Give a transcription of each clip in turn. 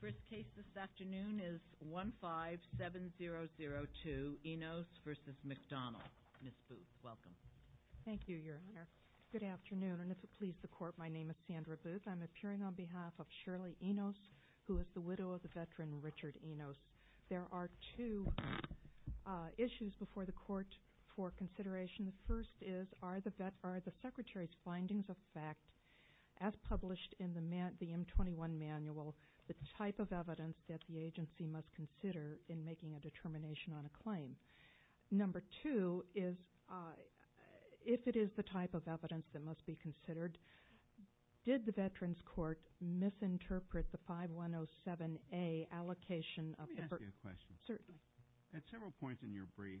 First case this afternoon is 157002 Enos v. McDonald. Ms. Booth, welcome. Thank you, Your Honor. Good afternoon, and if it pleases the Court, my name is Sandra Booth. I'm appearing on behalf of Shirley Enos, who is the widow of the veteran Richard Enos. There are two issues before the Court for consideration. The first is, are the Secretary's findings of fact, as published in the M-21 manual, the type of evidence that the agency must consider in making a determination on a claim? Number two is, if it is the type of evidence that must be considered, did the Veterans Court misinterpret the 5107A allocation of the burden? Let me ask you a question. Certainly. At several points in your brief,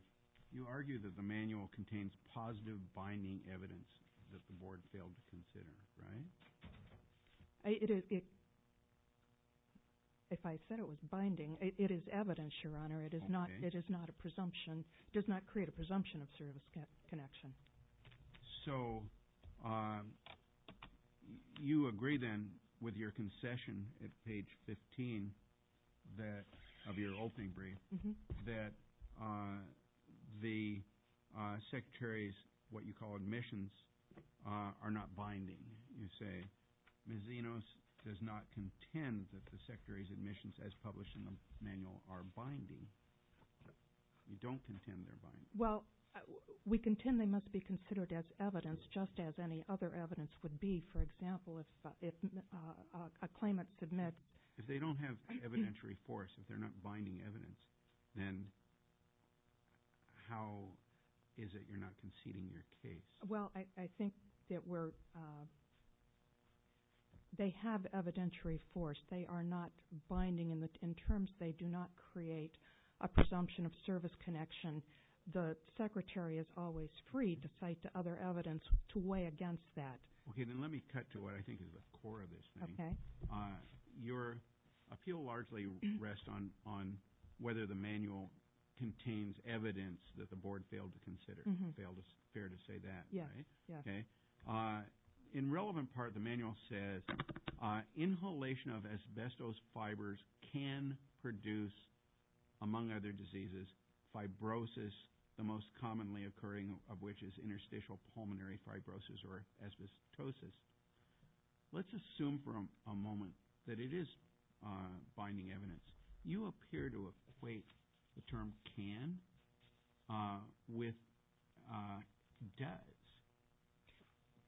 you argue that the manual contains positive binding evidence that the Board failed to consider, right? If I said it was binding, it is evidence, Your Honor. It does not create a presumption of service connection. So you agree then with your concession at page 15 of your opening brief that the Secretary's what you call admissions are not binding. You say Ms. Enos does not contend that the Secretary's admissions, as published in the manual, are binding. Well, we contend they must be considered as evidence just as any other evidence would be, for example, if a claimant submits. If they don't have evidentiary force, if they're not binding evidence, then how is it you're not conceding your case? Well, I think that they have evidentiary force. They are not binding in terms they do not create a presumption of service connection. The Secretary is always free to cite other evidence to weigh against that. Okay. Then let me cut to what I think is the core of this thing. Okay. Your appeal largely rests on whether the manual contains evidence that the Board failed to consider. It's fair to say that, right? Yes. Okay. In relevant part, the manual says inhalation of asbestos fibers can produce, among other diseases, fibrosis, the most commonly occurring of which is interstitial pulmonary fibrosis or asbestosis. Let's assume for a moment that it is binding evidence. You appear to equate the term can with does.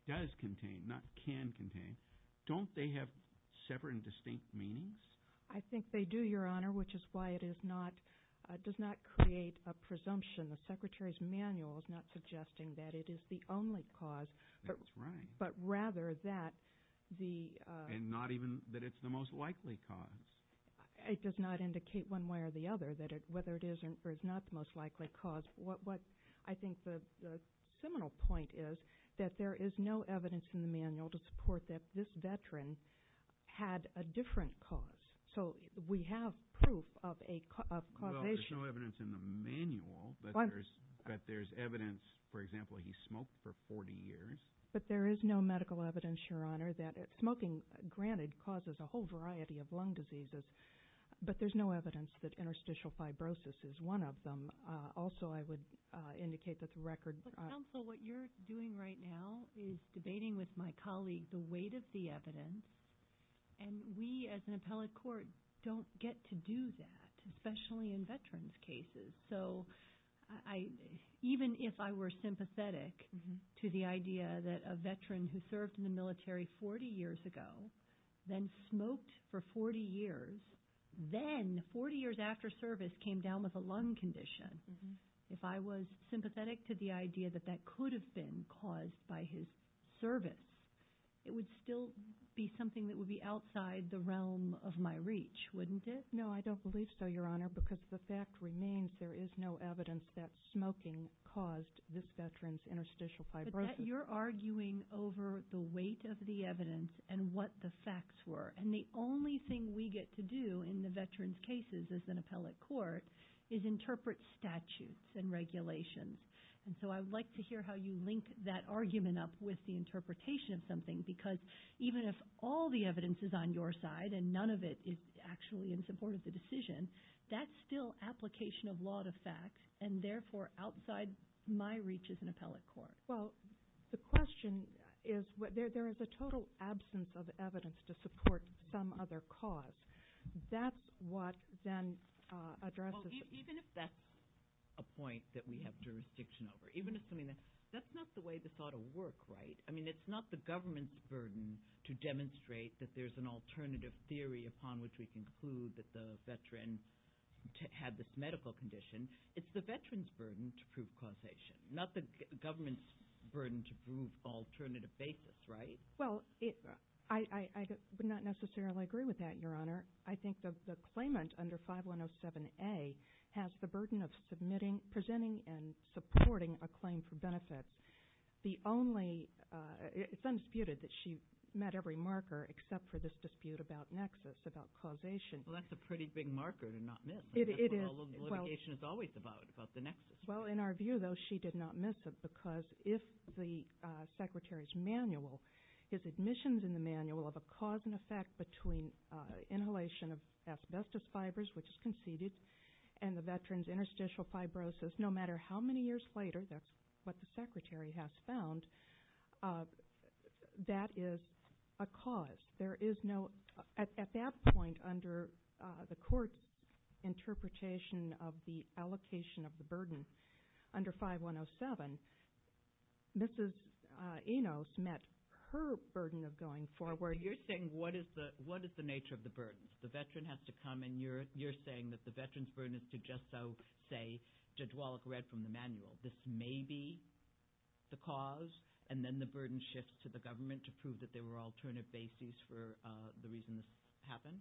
Does contain, not can contain. Don't they have separate and distinct meanings? I think they do, Your Honor, which is why it does not create a presumption. The Secretary's manual is not suggesting that it is the only cause. That's right. But rather that the – And not even that it's the most likely cause. It does not indicate one way or the other whether it is or is not the most likely cause. What I think the seminal point is that there is no evidence in the manual to support that this veteran had a different cause. So we have proof of causation. Well, there's no evidence in the manual, but there's evidence, for example, he smoked for 40 years. But there is no medical evidence, Your Honor, that smoking, granted, causes a whole variety of lung diseases, but there's no evidence that interstitial fibrosis is one of them. Also, I would indicate that the record – But, counsel, what you're doing right now is debating with my colleague the weight of the evidence, and we as an appellate court don't get to do that, especially in veterans' cases. So even if I were sympathetic to the idea that a veteran who served in the military 40 years ago, then smoked for 40 years, then 40 years after service came down with a lung condition, if I was sympathetic to the idea that that could have been caused by his service, it would still be something that would be outside the realm of my reach, wouldn't it? No, I don't believe so, Your Honor, because the fact remains there is no evidence that smoking caused this veteran's interstitial fibrosis. But you're arguing over the weight of the evidence and what the facts were. And the only thing we get to do in the veterans' cases as an appellate court is interpret statutes and regulations. And so I would like to hear how you link that argument up with the interpretation of something, because even if all the evidence is on your side and none of it is actually in support of the decision, that's still application of law to fact and, therefore, outside my reach as an appellate court. Well, the question is there is a total absence of evidence to support some other cause. That's what then addresses the question. Well, even if that's a point that we have jurisdiction over, even assuming that's not the way this ought to work, right? I mean, it's not the government's burden to demonstrate that there's an alternative theory upon which we conclude that the veteran had this medical condition. It's the veteran's burden to prove causation, not the government's burden to prove alternative basis, right? Well, I would not necessarily agree with that, Your Honor. I think the claimant under 5107A has the burden of submitting, presenting, and supporting a claim for benefits. It's undisputed that she met every marker except for this dispute about nexus, about causation. Well, that's a pretty big marker to not miss. That's what all litigation is always about, about the nexus. Well, in our view, though, she did not miss it because if the Secretary's manual, his admissions in the manual of a cause and effect between inhalation of asbestos fibers, which is conceded, and the veteran's interstitial fibrosis, no matter how many years later, that's what the Secretary has found, that is a cause. There is no at that point under the court's interpretation of the allocation of the burden under 5107, Mrs. Enos met her burden of going forward. You're saying what is the nature of the burden? The veteran has to come, and you're saying that the veteran's burden is to just so say, Judge Wallach read from the manual, this may be the cause, and then the burden shifts to the government to prove that there were alternative bases for the reason this happened?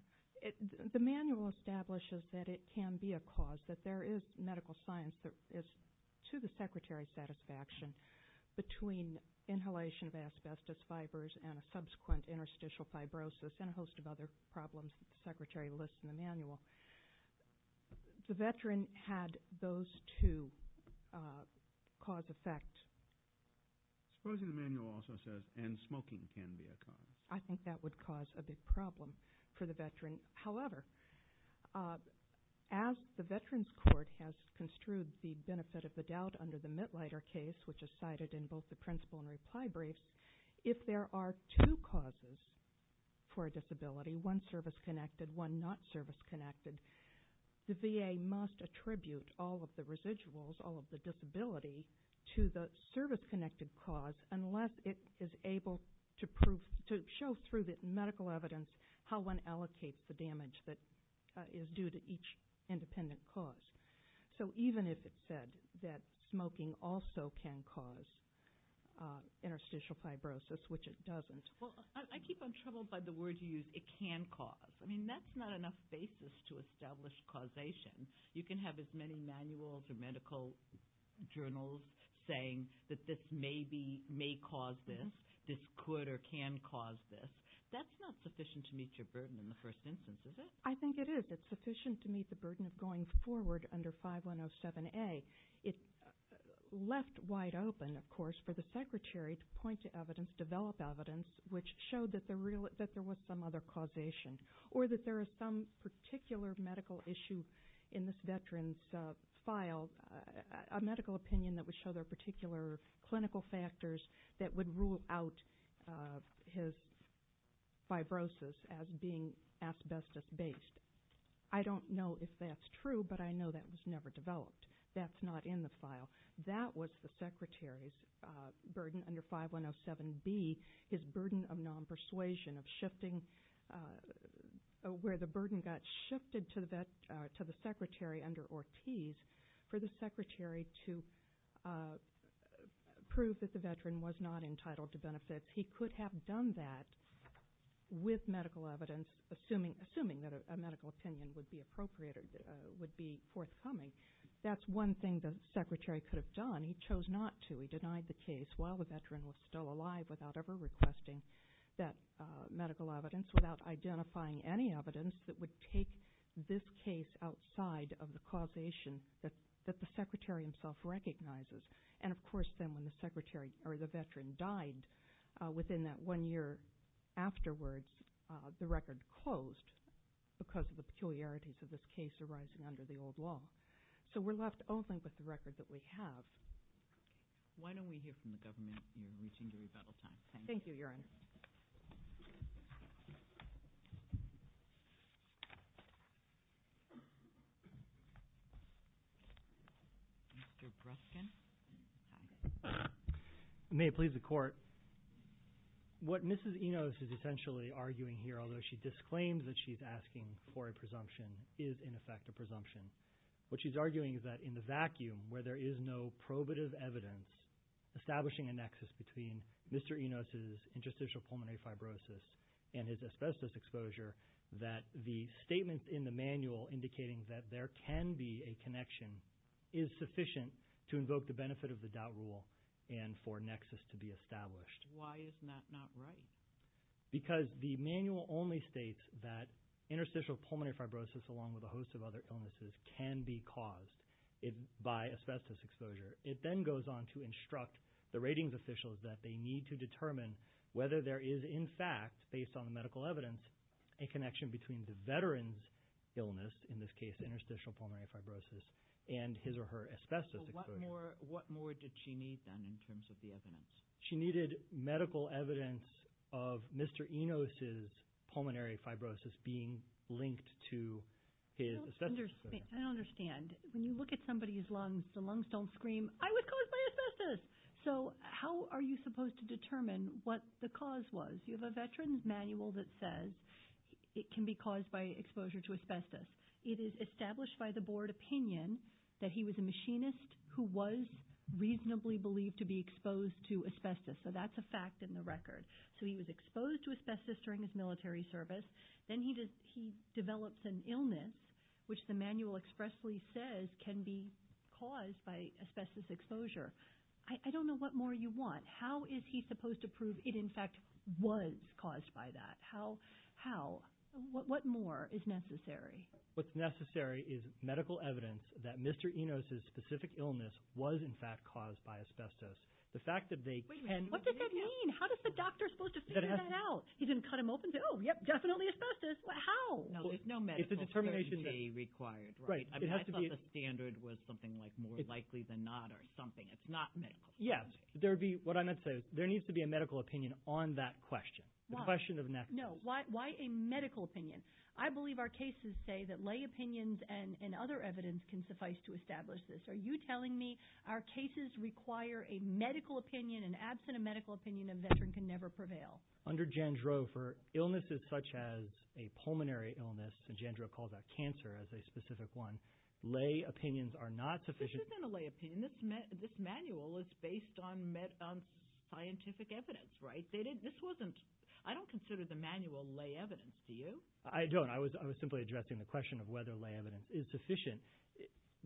The manual establishes that it can be a cause, that there is medical science that is to the Secretary's satisfaction between inhalation of asbestos fibers and a subsequent interstitial fibrosis and a host of other problems that the Secretary lists in the manual. The veteran had those two cause-effects. Supposing the manual also says, and smoking can be a cause. I think that would cause a big problem for the veteran. However, as the Veterans Court has construed the benefit of the doubt under the Mitlider case, which is cited in both the principle and reply briefs, if there are two causes for a disability, one service-connected, one not service-connected, the VA must attribute all of the residuals, all of the disability to the service-connected cause unless it is able to show through the medical evidence how one allocates the damage that is due to each independent cause. So even if it said that smoking also can cause interstitial fibrosis, which it doesn't. Well, I keep on troubled by the word you use, it can cause. I mean, that's not enough basis to establish causation. You can have as many manuals or medical journals saying that this may cause this, this could or can cause this. That's not sufficient to meet your burden in the first instance, is it? I think it is. It's sufficient to meet the burden of going forward under 5107A. It left wide open, of course, for the secretary to point to evidence, develop evidence, which showed that there was some other causation, or that there is some particular medical issue in this veteran's file, a medical opinion that would show there are particular clinical factors that would rule out his fibrosis as being asbestos-based. I don't know if that's true, but I know that was never developed. That's not in the file. That was the secretary's burden under 5107B, his burden of non-persuasion, of shifting where the burden got shifted to the secretary under Ortiz for the secretary to prove that the veteran was not entitled to benefits. He could have done that with medical evidence, assuming that a medical opinion would be appropriate or would be forthcoming. That's one thing the secretary could have done. He chose not to. We denied the case while the veteran was still alive without ever requesting that medical evidence, without identifying any evidence that would take this case outside of the causation that the secretary himself recognizes. And, of course, then when the veteran died within that one year afterwards, the record closed because of the peculiarities of this case arising under the old law. So we're left only with the record that we have. Why don't we hear from the government? You're reaching the rebuttal time. Thank you, Your Honor. Mr. Bruskin. May it please the Court. What Mrs. Enos is essentially arguing here, although she disclaims that she's asking for a presumption, is, in effect, a presumption. What she's arguing is that in the vacuum, where there is no probative evidence establishing a nexus between Mr. Enos' interstitial pulmonary fibrosis and his asbestos exposure, that the statement in the manual indicating that there can be a connection is sufficient to invoke the benefit of the doubt rule and for a nexus to be established. Why isn't that not right? Because the manual only states that interstitial pulmonary fibrosis, along with a host of other illnesses, can be caused by asbestos exposure. It then goes on to instruct the ratings officials that they need to determine whether there is, in fact, based on the medical evidence, a connection between the veteran's illness, in this case interstitial pulmonary fibrosis, and his or her asbestos exposure. What more did she need, then, in terms of the evidence? She needed medical evidence of Mr. Enos' pulmonary fibrosis being linked to his asbestos exposure. I don't understand. When you look at somebody's lungs, the lungs don't scream, I was caused by asbestos. So how are you supposed to determine what the cause was? You have a veteran's manual that says it can be caused by exposure to asbestos. It is established by the board opinion that he was a machinist who was reasonably believed to be exposed to asbestos. So that's a fact in the record. So he was exposed to asbestos during his military service. Then he develops an illness, which the manual expressly says can be caused by asbestos exposure. I don't know what more you want. How is he supposed to prove it, in fact, was caused by that? How? What more is necessary? What's necessary is medical evidence that Mr. Enos' specific illness was, in fact, caused by asbestos. What does that mean? How is the doctor supposed to figure that out? He didn't cut him open and say, oh, yep, definitely asbestos. How? There's no medical certainty required, right? I thought the standard was something like more likely than not or something. It's not medical certainty. Yes. What I meant to say is there needs to be a medical opinion on that question, the question of necklace. No. Why a medical opinion? I believe our cases say that lay opinions and other evidence can suffice to establish this. Are you telling me our cases require a medical opinion? And absent a medical opinion, a veteran can never prevail. Under Jandreau, for illnesses such as a pulmonary illness, and Jandreau calls that cancer as a specific one, lay opinions are not sufficient. This isn't a lay opinion. This manual is based on scientific evidence, right? This wasn't – I don't consider the manual lay evidence. Do you? I don't. I was simply addressing the question of whether lay evidence is sufficient.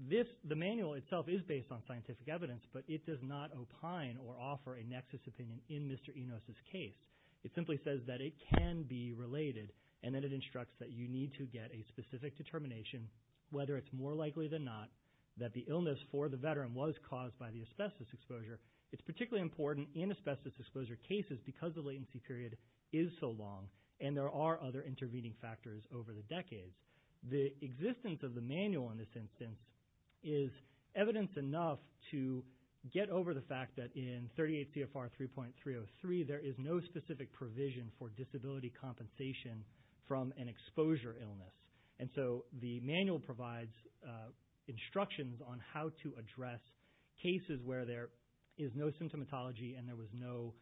The manual itself is based on scientific evidence, but it does not opine or offer a nexus opinion in Mr. Enos' case. It simply says that it can be related and that it instructs that you need to get a specific determination, whether it's more likely than not that the illness for the veteran was caused by the asbestos exposure. It's particularly important in asbestos exposure cases because the latency period is so long and there are other intervening factors over the decades. The existence of the manual in this instance is evidence enough to get over the fact that in 38 CFR 3.303, there is no specific provision for disability compensation from an exposure illness. And so the manual provides instructions on how to address cases where there is no symptomatology and there was no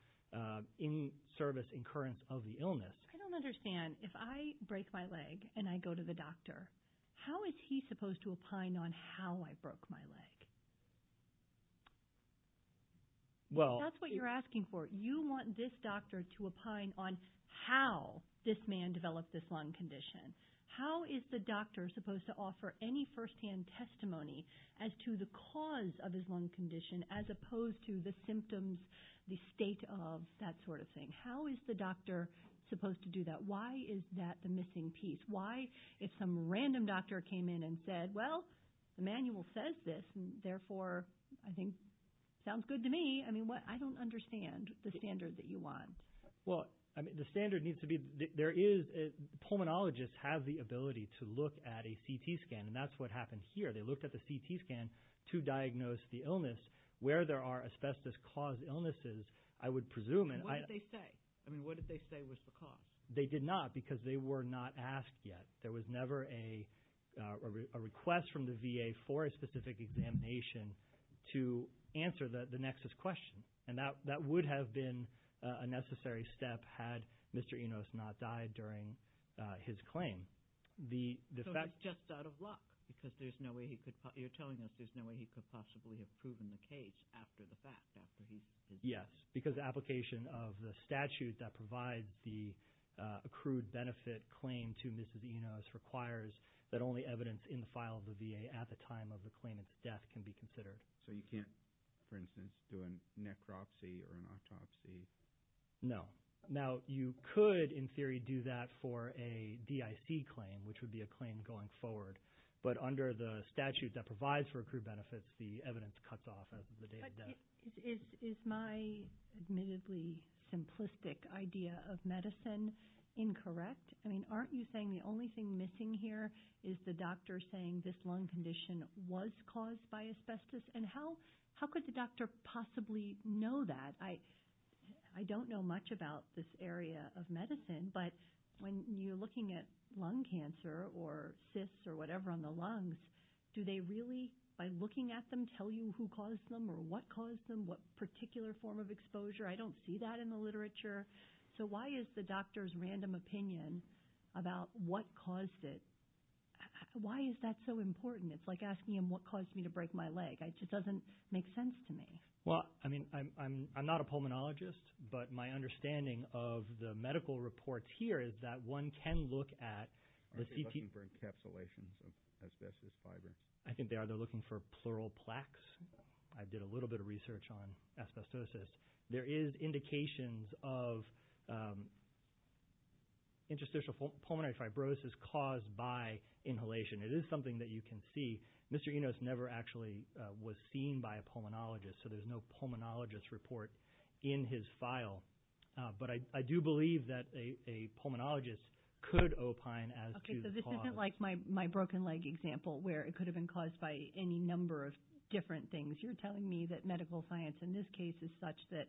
in-service incurrence of the illness. I don't understand. If I break my leg and I go to the doctor, how is he supposed to opine on how I broke my leg? Well – That's what you're asking for. You want this doctor to opine on how this man developed this lung condition. How is the doctor supposed to offer any firsthand testimony as to the cause of his lung condition as opposed to the symptoms, the state of that sort of thing? How is the doctor supposed to do that? Why is that the missing piece? Why, if some random doctor came in and said, well, the manual says this, and therefore I think it sounds good to me, I don't understand the standard that you want. Well, the standard needs to be – there is – pulmonologists have the ability to look at a CT scan, and that's what happened here. They looked at the CT scan to diagnose the illness. Where there are asbestos-caused illnesses, I would presume – And what did they say? I mean, what did they say was the cause? They did not because they were not asked yet. There was never a request from the VA for a specific examination to answer the nexus question, and that would have been a necessary step had Mr. Enos not died during his claim. So it's just out of luck because there's no way he could – you're telling us there's no way he could possibly have proven the case after the fact, after he's – Yes, because the application of the statute that provides the accrued benefit claim to Mrs. Enos requires that only evidence in the file of the VA at the time of the claimant's death can be considered. So you can't, for instance, do a necropsy or an autopsy? No. Now, you could, in theory, do that for a DIC claim, which would be a claim going forward, but under the statute that provides for accrued benefits, the evidence cuts off at the date of death. But is my admittedly simplistic idea of medicine incorrect? I mean, aren't you saying the only thing missing here is the doctor saying this lung condition was caused by asbestos, and how could the doctor possibly know that? I don't know much about this area of medicine, but when you're looking at lung cancer or cysts or whatever on the lungs, do they really, by looking at them, tell you who caused them or what caused them, what particular form of exposure? I don't see that in the literature. So why is the doctor's random opinion about what caused it – why is that so important? It's like asking him what caused me to break my leg. It just doesn't make sense to me. Well, I mean, I'm not a pulmonologist, but my understanding of the medical reports here is that one can look at the CT… Are they looking for encapsulations of asbestos fibers? I think they are. They're looking for pleural plaques. I did a little bit of research on asbestosis. There is indications of interstitial pulmonary fibrosis caused by inhalation. It is something that you can see. Mr. Enos never actually was seen by a pulmonologist, so there's no pulmonologist report in his file. But I do believe that a pulmonologist could opine as to the cause. Okay, so this isn't like my broken leg example where it could have been caused by any number of different things. You're telling me that medical science in this case is such that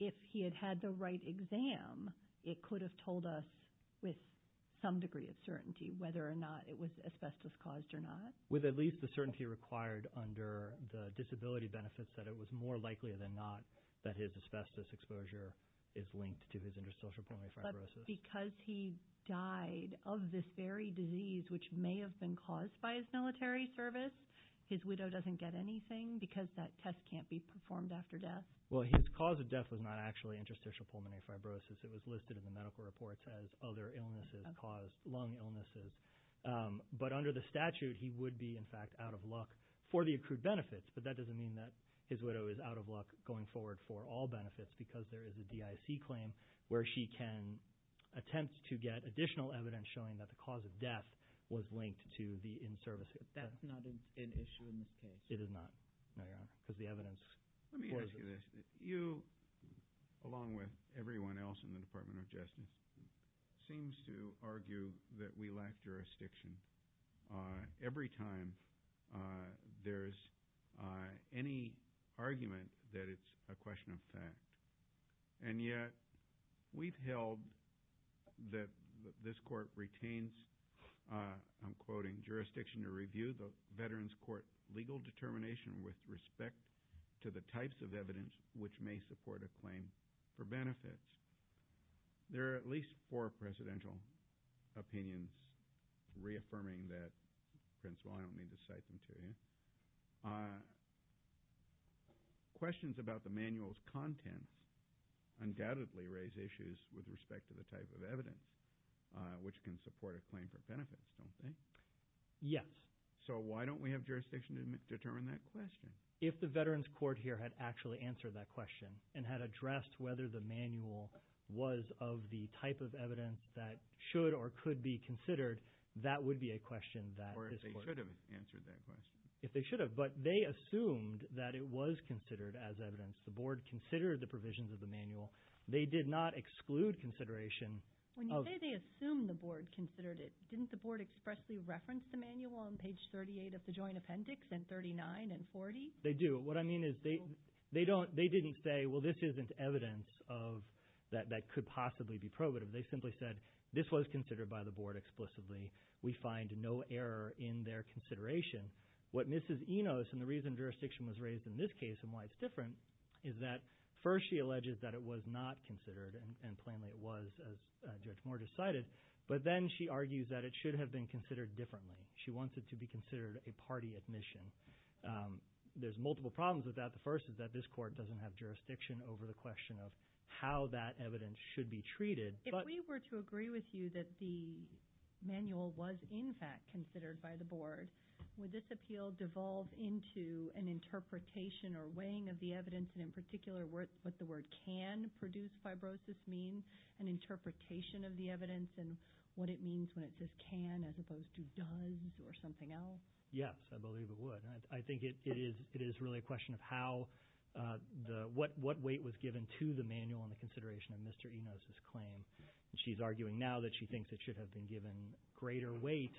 if he had had the right exam, it could have told us with some degree of certainty whether or not it was asbestos-caused or not? With at least the certainty required under the disability benefits that it was more likely than not that his asbestos exposure is linked to his interstitial pulmonary fibrosis. But because he died of this very disease, which may have been caused by his military service, his widow doesn't get anything because that test can't be performed after death? Well, his cause of death was not actually interstitial pulmonary fibrosis. It was listed in the medical reports as other illnesses caused, lung illnesses. But under the statute, he would be, in fact, out of luck for the accrued benefits. But that doesn't mean that his widow is out of luck going forward for all benefits because there is a DIC claim where she can attempt to get additional evidence showing that the cause of death was linked to the in-service. That's not an issue in this case? It is not, no, Your Honor, because the evidence supports it. You, along with everyone else in the Department of Justice, seems to argue that we lack jurisdiction. Every time there's any argument that it's a question of fact. And yet we've held that this court retains, I'm quoting, jurisdiction to review the veterans' court legal determination with respect to the types of evidence which may support a claim for benefits. There are at least four presidential opinions reaffirming that. Prince, well, I don't mean to cite them to you. Questions about the manual's contents undoubtedly raise issues with respect to the type of evidence which can support a claim for benefits, don't they? Yes. So why don't we have jurisdiction to determine that question? If the veterans' court here had actually answered that question and had addressed whether the manual was of the type of evidence that should or could be considered, that would be a question that this court… Or if they should have answered that question. If they should have. But they assumed that it was considered as evidence. The board considered the provisions of the manual. They did not exclude consideration of… When you say they assumed the board considered it, didn't the board expressly reference the manual on page 38 of the Joint Appendix and 39 and 40? They do. What I mean is they didn't say, well, this isn't evidence that could possibly be probative. They simply said this was considered by the board explicitly. We find no error in their consideration. What Mrs. Enos, and the reason jurisdiction was raised in this case and why it's different, is that first she alleges that it was not considered, and plainly it was, as Judge Moore just cited. But then she argues that it should have been considered differently. She wants it to be considered a party admission. There's multiple problems with that. The first is that this court doesn't have jurisdiction over the question of how that evidence should be treated. If we were to agree with you that the manual was in fact considered by the board, would this appeal devolve into an interpretation or weighing of the evidence, and in particular what the word can produce fibrosis mean, an interpretation of the evidence, and what it means when it says can as opposed to does or something else? Yes, I believe it would. I think it is really a question of what weight was given to the manual in the consideration of Mr. Enos' claim. She's arguing now that she thinks it should have been given greater weight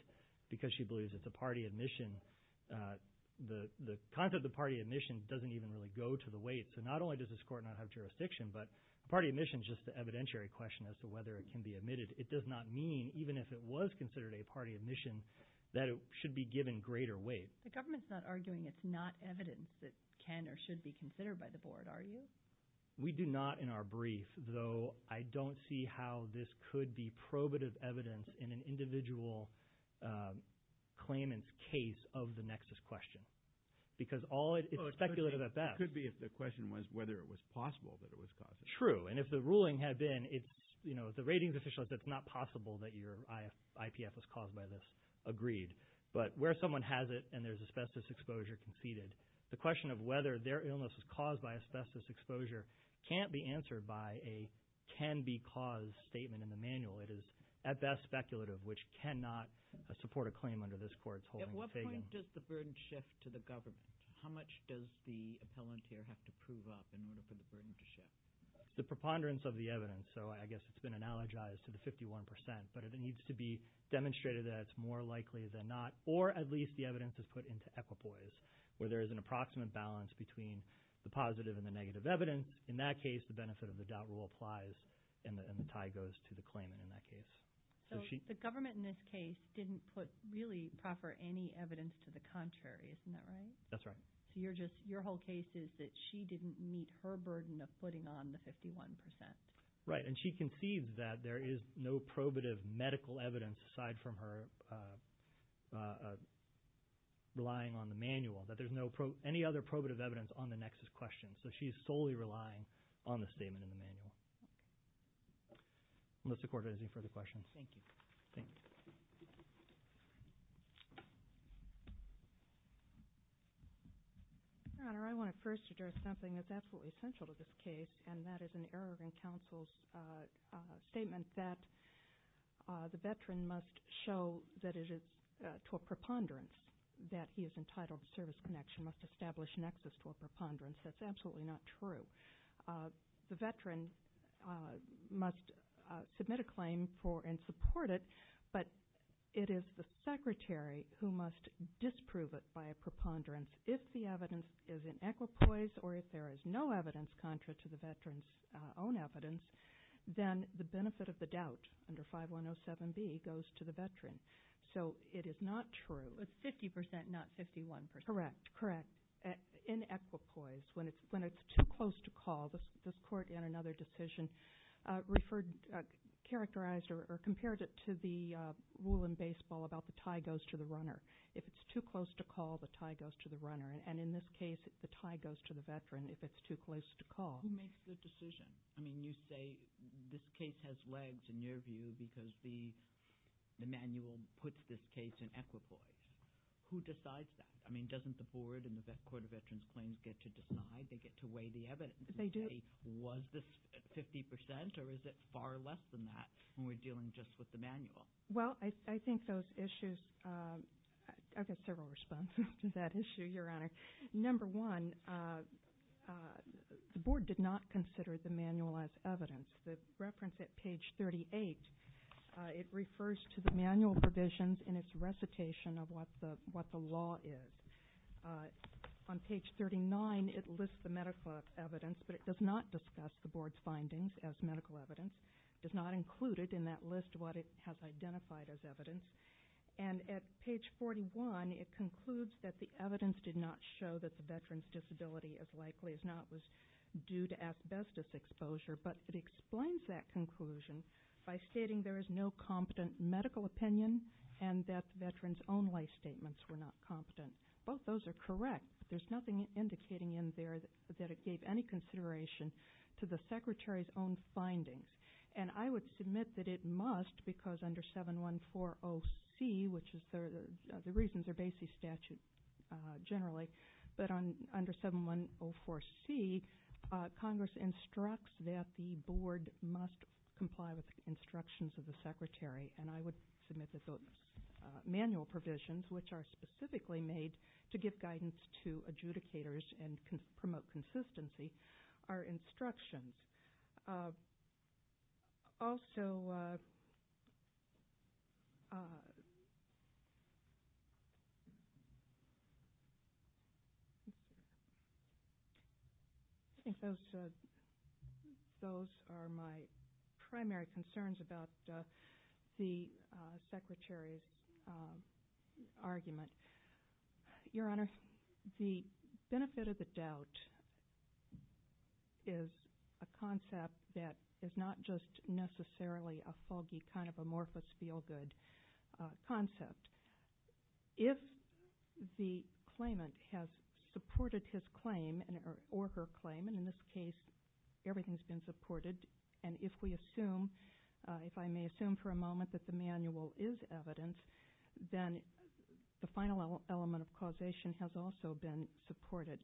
because she believes it's a party admission. The concept of the party admission doesn't even really go to the weight. So not only does this court not have jurisdiction, but a party admission is just an evidentiary question as to whether it can be admitted. It does not mean, even if it was considered a party admission, that it should be given greater weight. The government's not arguing it's not evidence that can or should be considered by the board, are you? We do not in our brief, though I don't see how this could be probative evidence in an individual claimant's case of the nexus question. It could be if the question was whether it was possible that it was caused by this. True, and if the ruling had been the ratings official said it's not possible that your IPF was caused by this, agreed. But where someone has it and there's asbestos exposure conceded, the question of whether their illness was caused by asbestos exposure can't be answered by a can-be-caused statement in the manual. It is at best speculative, which cannot support a claim under this court's holding. At what point does the burden shift to the government? How much does the appellanteer have to prove up in order for the burden to shift? It's the preponderance of the evidence, so I guess it's been analogized to the 51%, but it needs to be demonstrated that it's more likely than not, or at least the evidence is put into equipoise, where there is an approximate balance between the positive and the negative evidence. In that case, the benefit of the doubt rule applies, and the tie goes to the claimant in that case. So the government in this case didn't really proffer any evidence to the contrary, isn't that right? That's right. So your whole case is that she didn't meet her burden of putting on the 51%. Right, and she concedes that there is no probative medical evidence aside from her relying on the manual, that there's no any other probative evidence on the nexus question. So she's solely relying on the statement in the manual. Okay. Melissa Cordes, any further questions? Thank you. Thank you. Your Honor, I want to first address something that's absolutely essential to this case, and that is an error in counsel's statement that the veteran must show that it is to a preponderance that he is entitled to service connection, must establish nexus to a preponderance. That's absolutely not true. The veteran must submit a claim for and support it, but it is the secretary who must disprove it by a preponderance. If the evidence is in equipoise or if there is no evidence contrary to the veteran's own evidence, then the benefit of the doubt under 5107B goes to the veteran. So it is not true. It's 50%, not 51%. Correct, correct. In equipoise, when it's too close to call, this Court in another decision referred, characterized, or compared it to the rule in baseball about the tie goes to the runner. If it's too close to call, the tie goes to the runner. And in this case, the tie goes to the veteran if it's too close to call. Who makes the decision? I mean, you say this case has legs in your view because the manual puts this case in equipoise. Who decides that? I mean, doesn't the Board and the Court of Veterans Claims get to decide? They get to weigh the evidence. They do. Was this 50% or is it far less than that when we're dealing just with the manual? Well, I think those issues – I've got several responses to that issue, Your Honor. Number one, the Board did not consider the manual as evidence. The reference at page 38, it refers to the manual provisions and its recitation of what the law is. On page 39, it lists the medical evidence, but it does not discuss the Board's findings as medical evidence, does not include it in that list what it has identified as evidence. And at page 41, it concludes that the evidence did not show that the veteran's disability, as likely as not, was due to asbestos exposure, but it explains that conclusion by stating there is no competent medical opinion and that the veteran's own life statements were not competent. Both those are correct, but there's nothing indicating in there that it gave any consideration to the Secretary's own findings. And I would submit that it must because under 714OC, which is the reasons are basically statute generally, but under 7104C, Congress instructs that the Board must comply with instructions of the Secretary, and I would submit that those manual provisions, which are specifically made to give guidance to adjudicators and promote consistency, are instructions. Also, I think those are my primary concerns about the Secretary's argument. Your Honor, the benefit of the doubt is a concept that is not just necessarily a foggy kind of amorphous feel-good concept. If the claimant has supported his claim or her claim, and in this case everything's been supported, and if we assume, if I may assume for a moment that the manual is evidence, then the final element of causation has also been supported.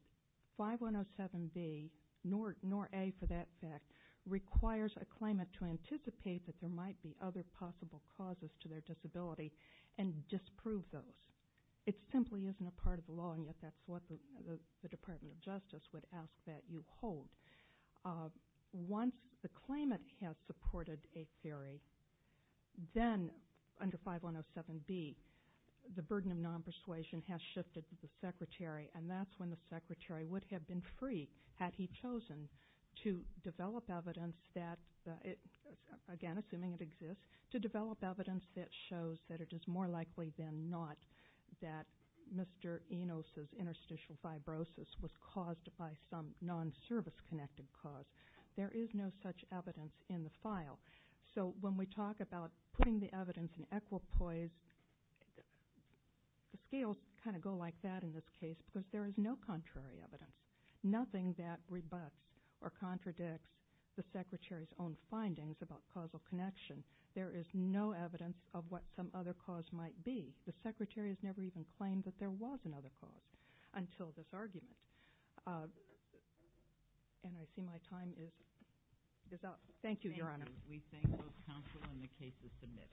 5107B, nor A for that fact, requires a claimant to anticipate that there might be other possible causes to their disability and disprove those. It simply isn't a part of the law, and yet that's what the Department of Justice would ask that you hold. Once the claimant has supported a theory, then under 5107B, the burden of non-persuasion has shifted to the Secretary, and that's when the Secretary would have been free, had he chosen to develop evidence that, again, assuming it exists, to develop evidence that shows that it is more likely than not that Mr. Enos' interstitial fibrosis was caused by some non-service-connected cause. There is no such evidence in the file. So when we talk about putting the evidence in equipoise, the scales kind of go like that in this case because there is no contrary evidence, nothing that rebuts or contradicts the Secretary's own findings about causal connection. There is no evidence of what some other cause might be. The Secretary has never even claimed that there was another cause until this argument. And I see my time is up. Thank you, Your Honor. We thank both counsel and the cases submitted.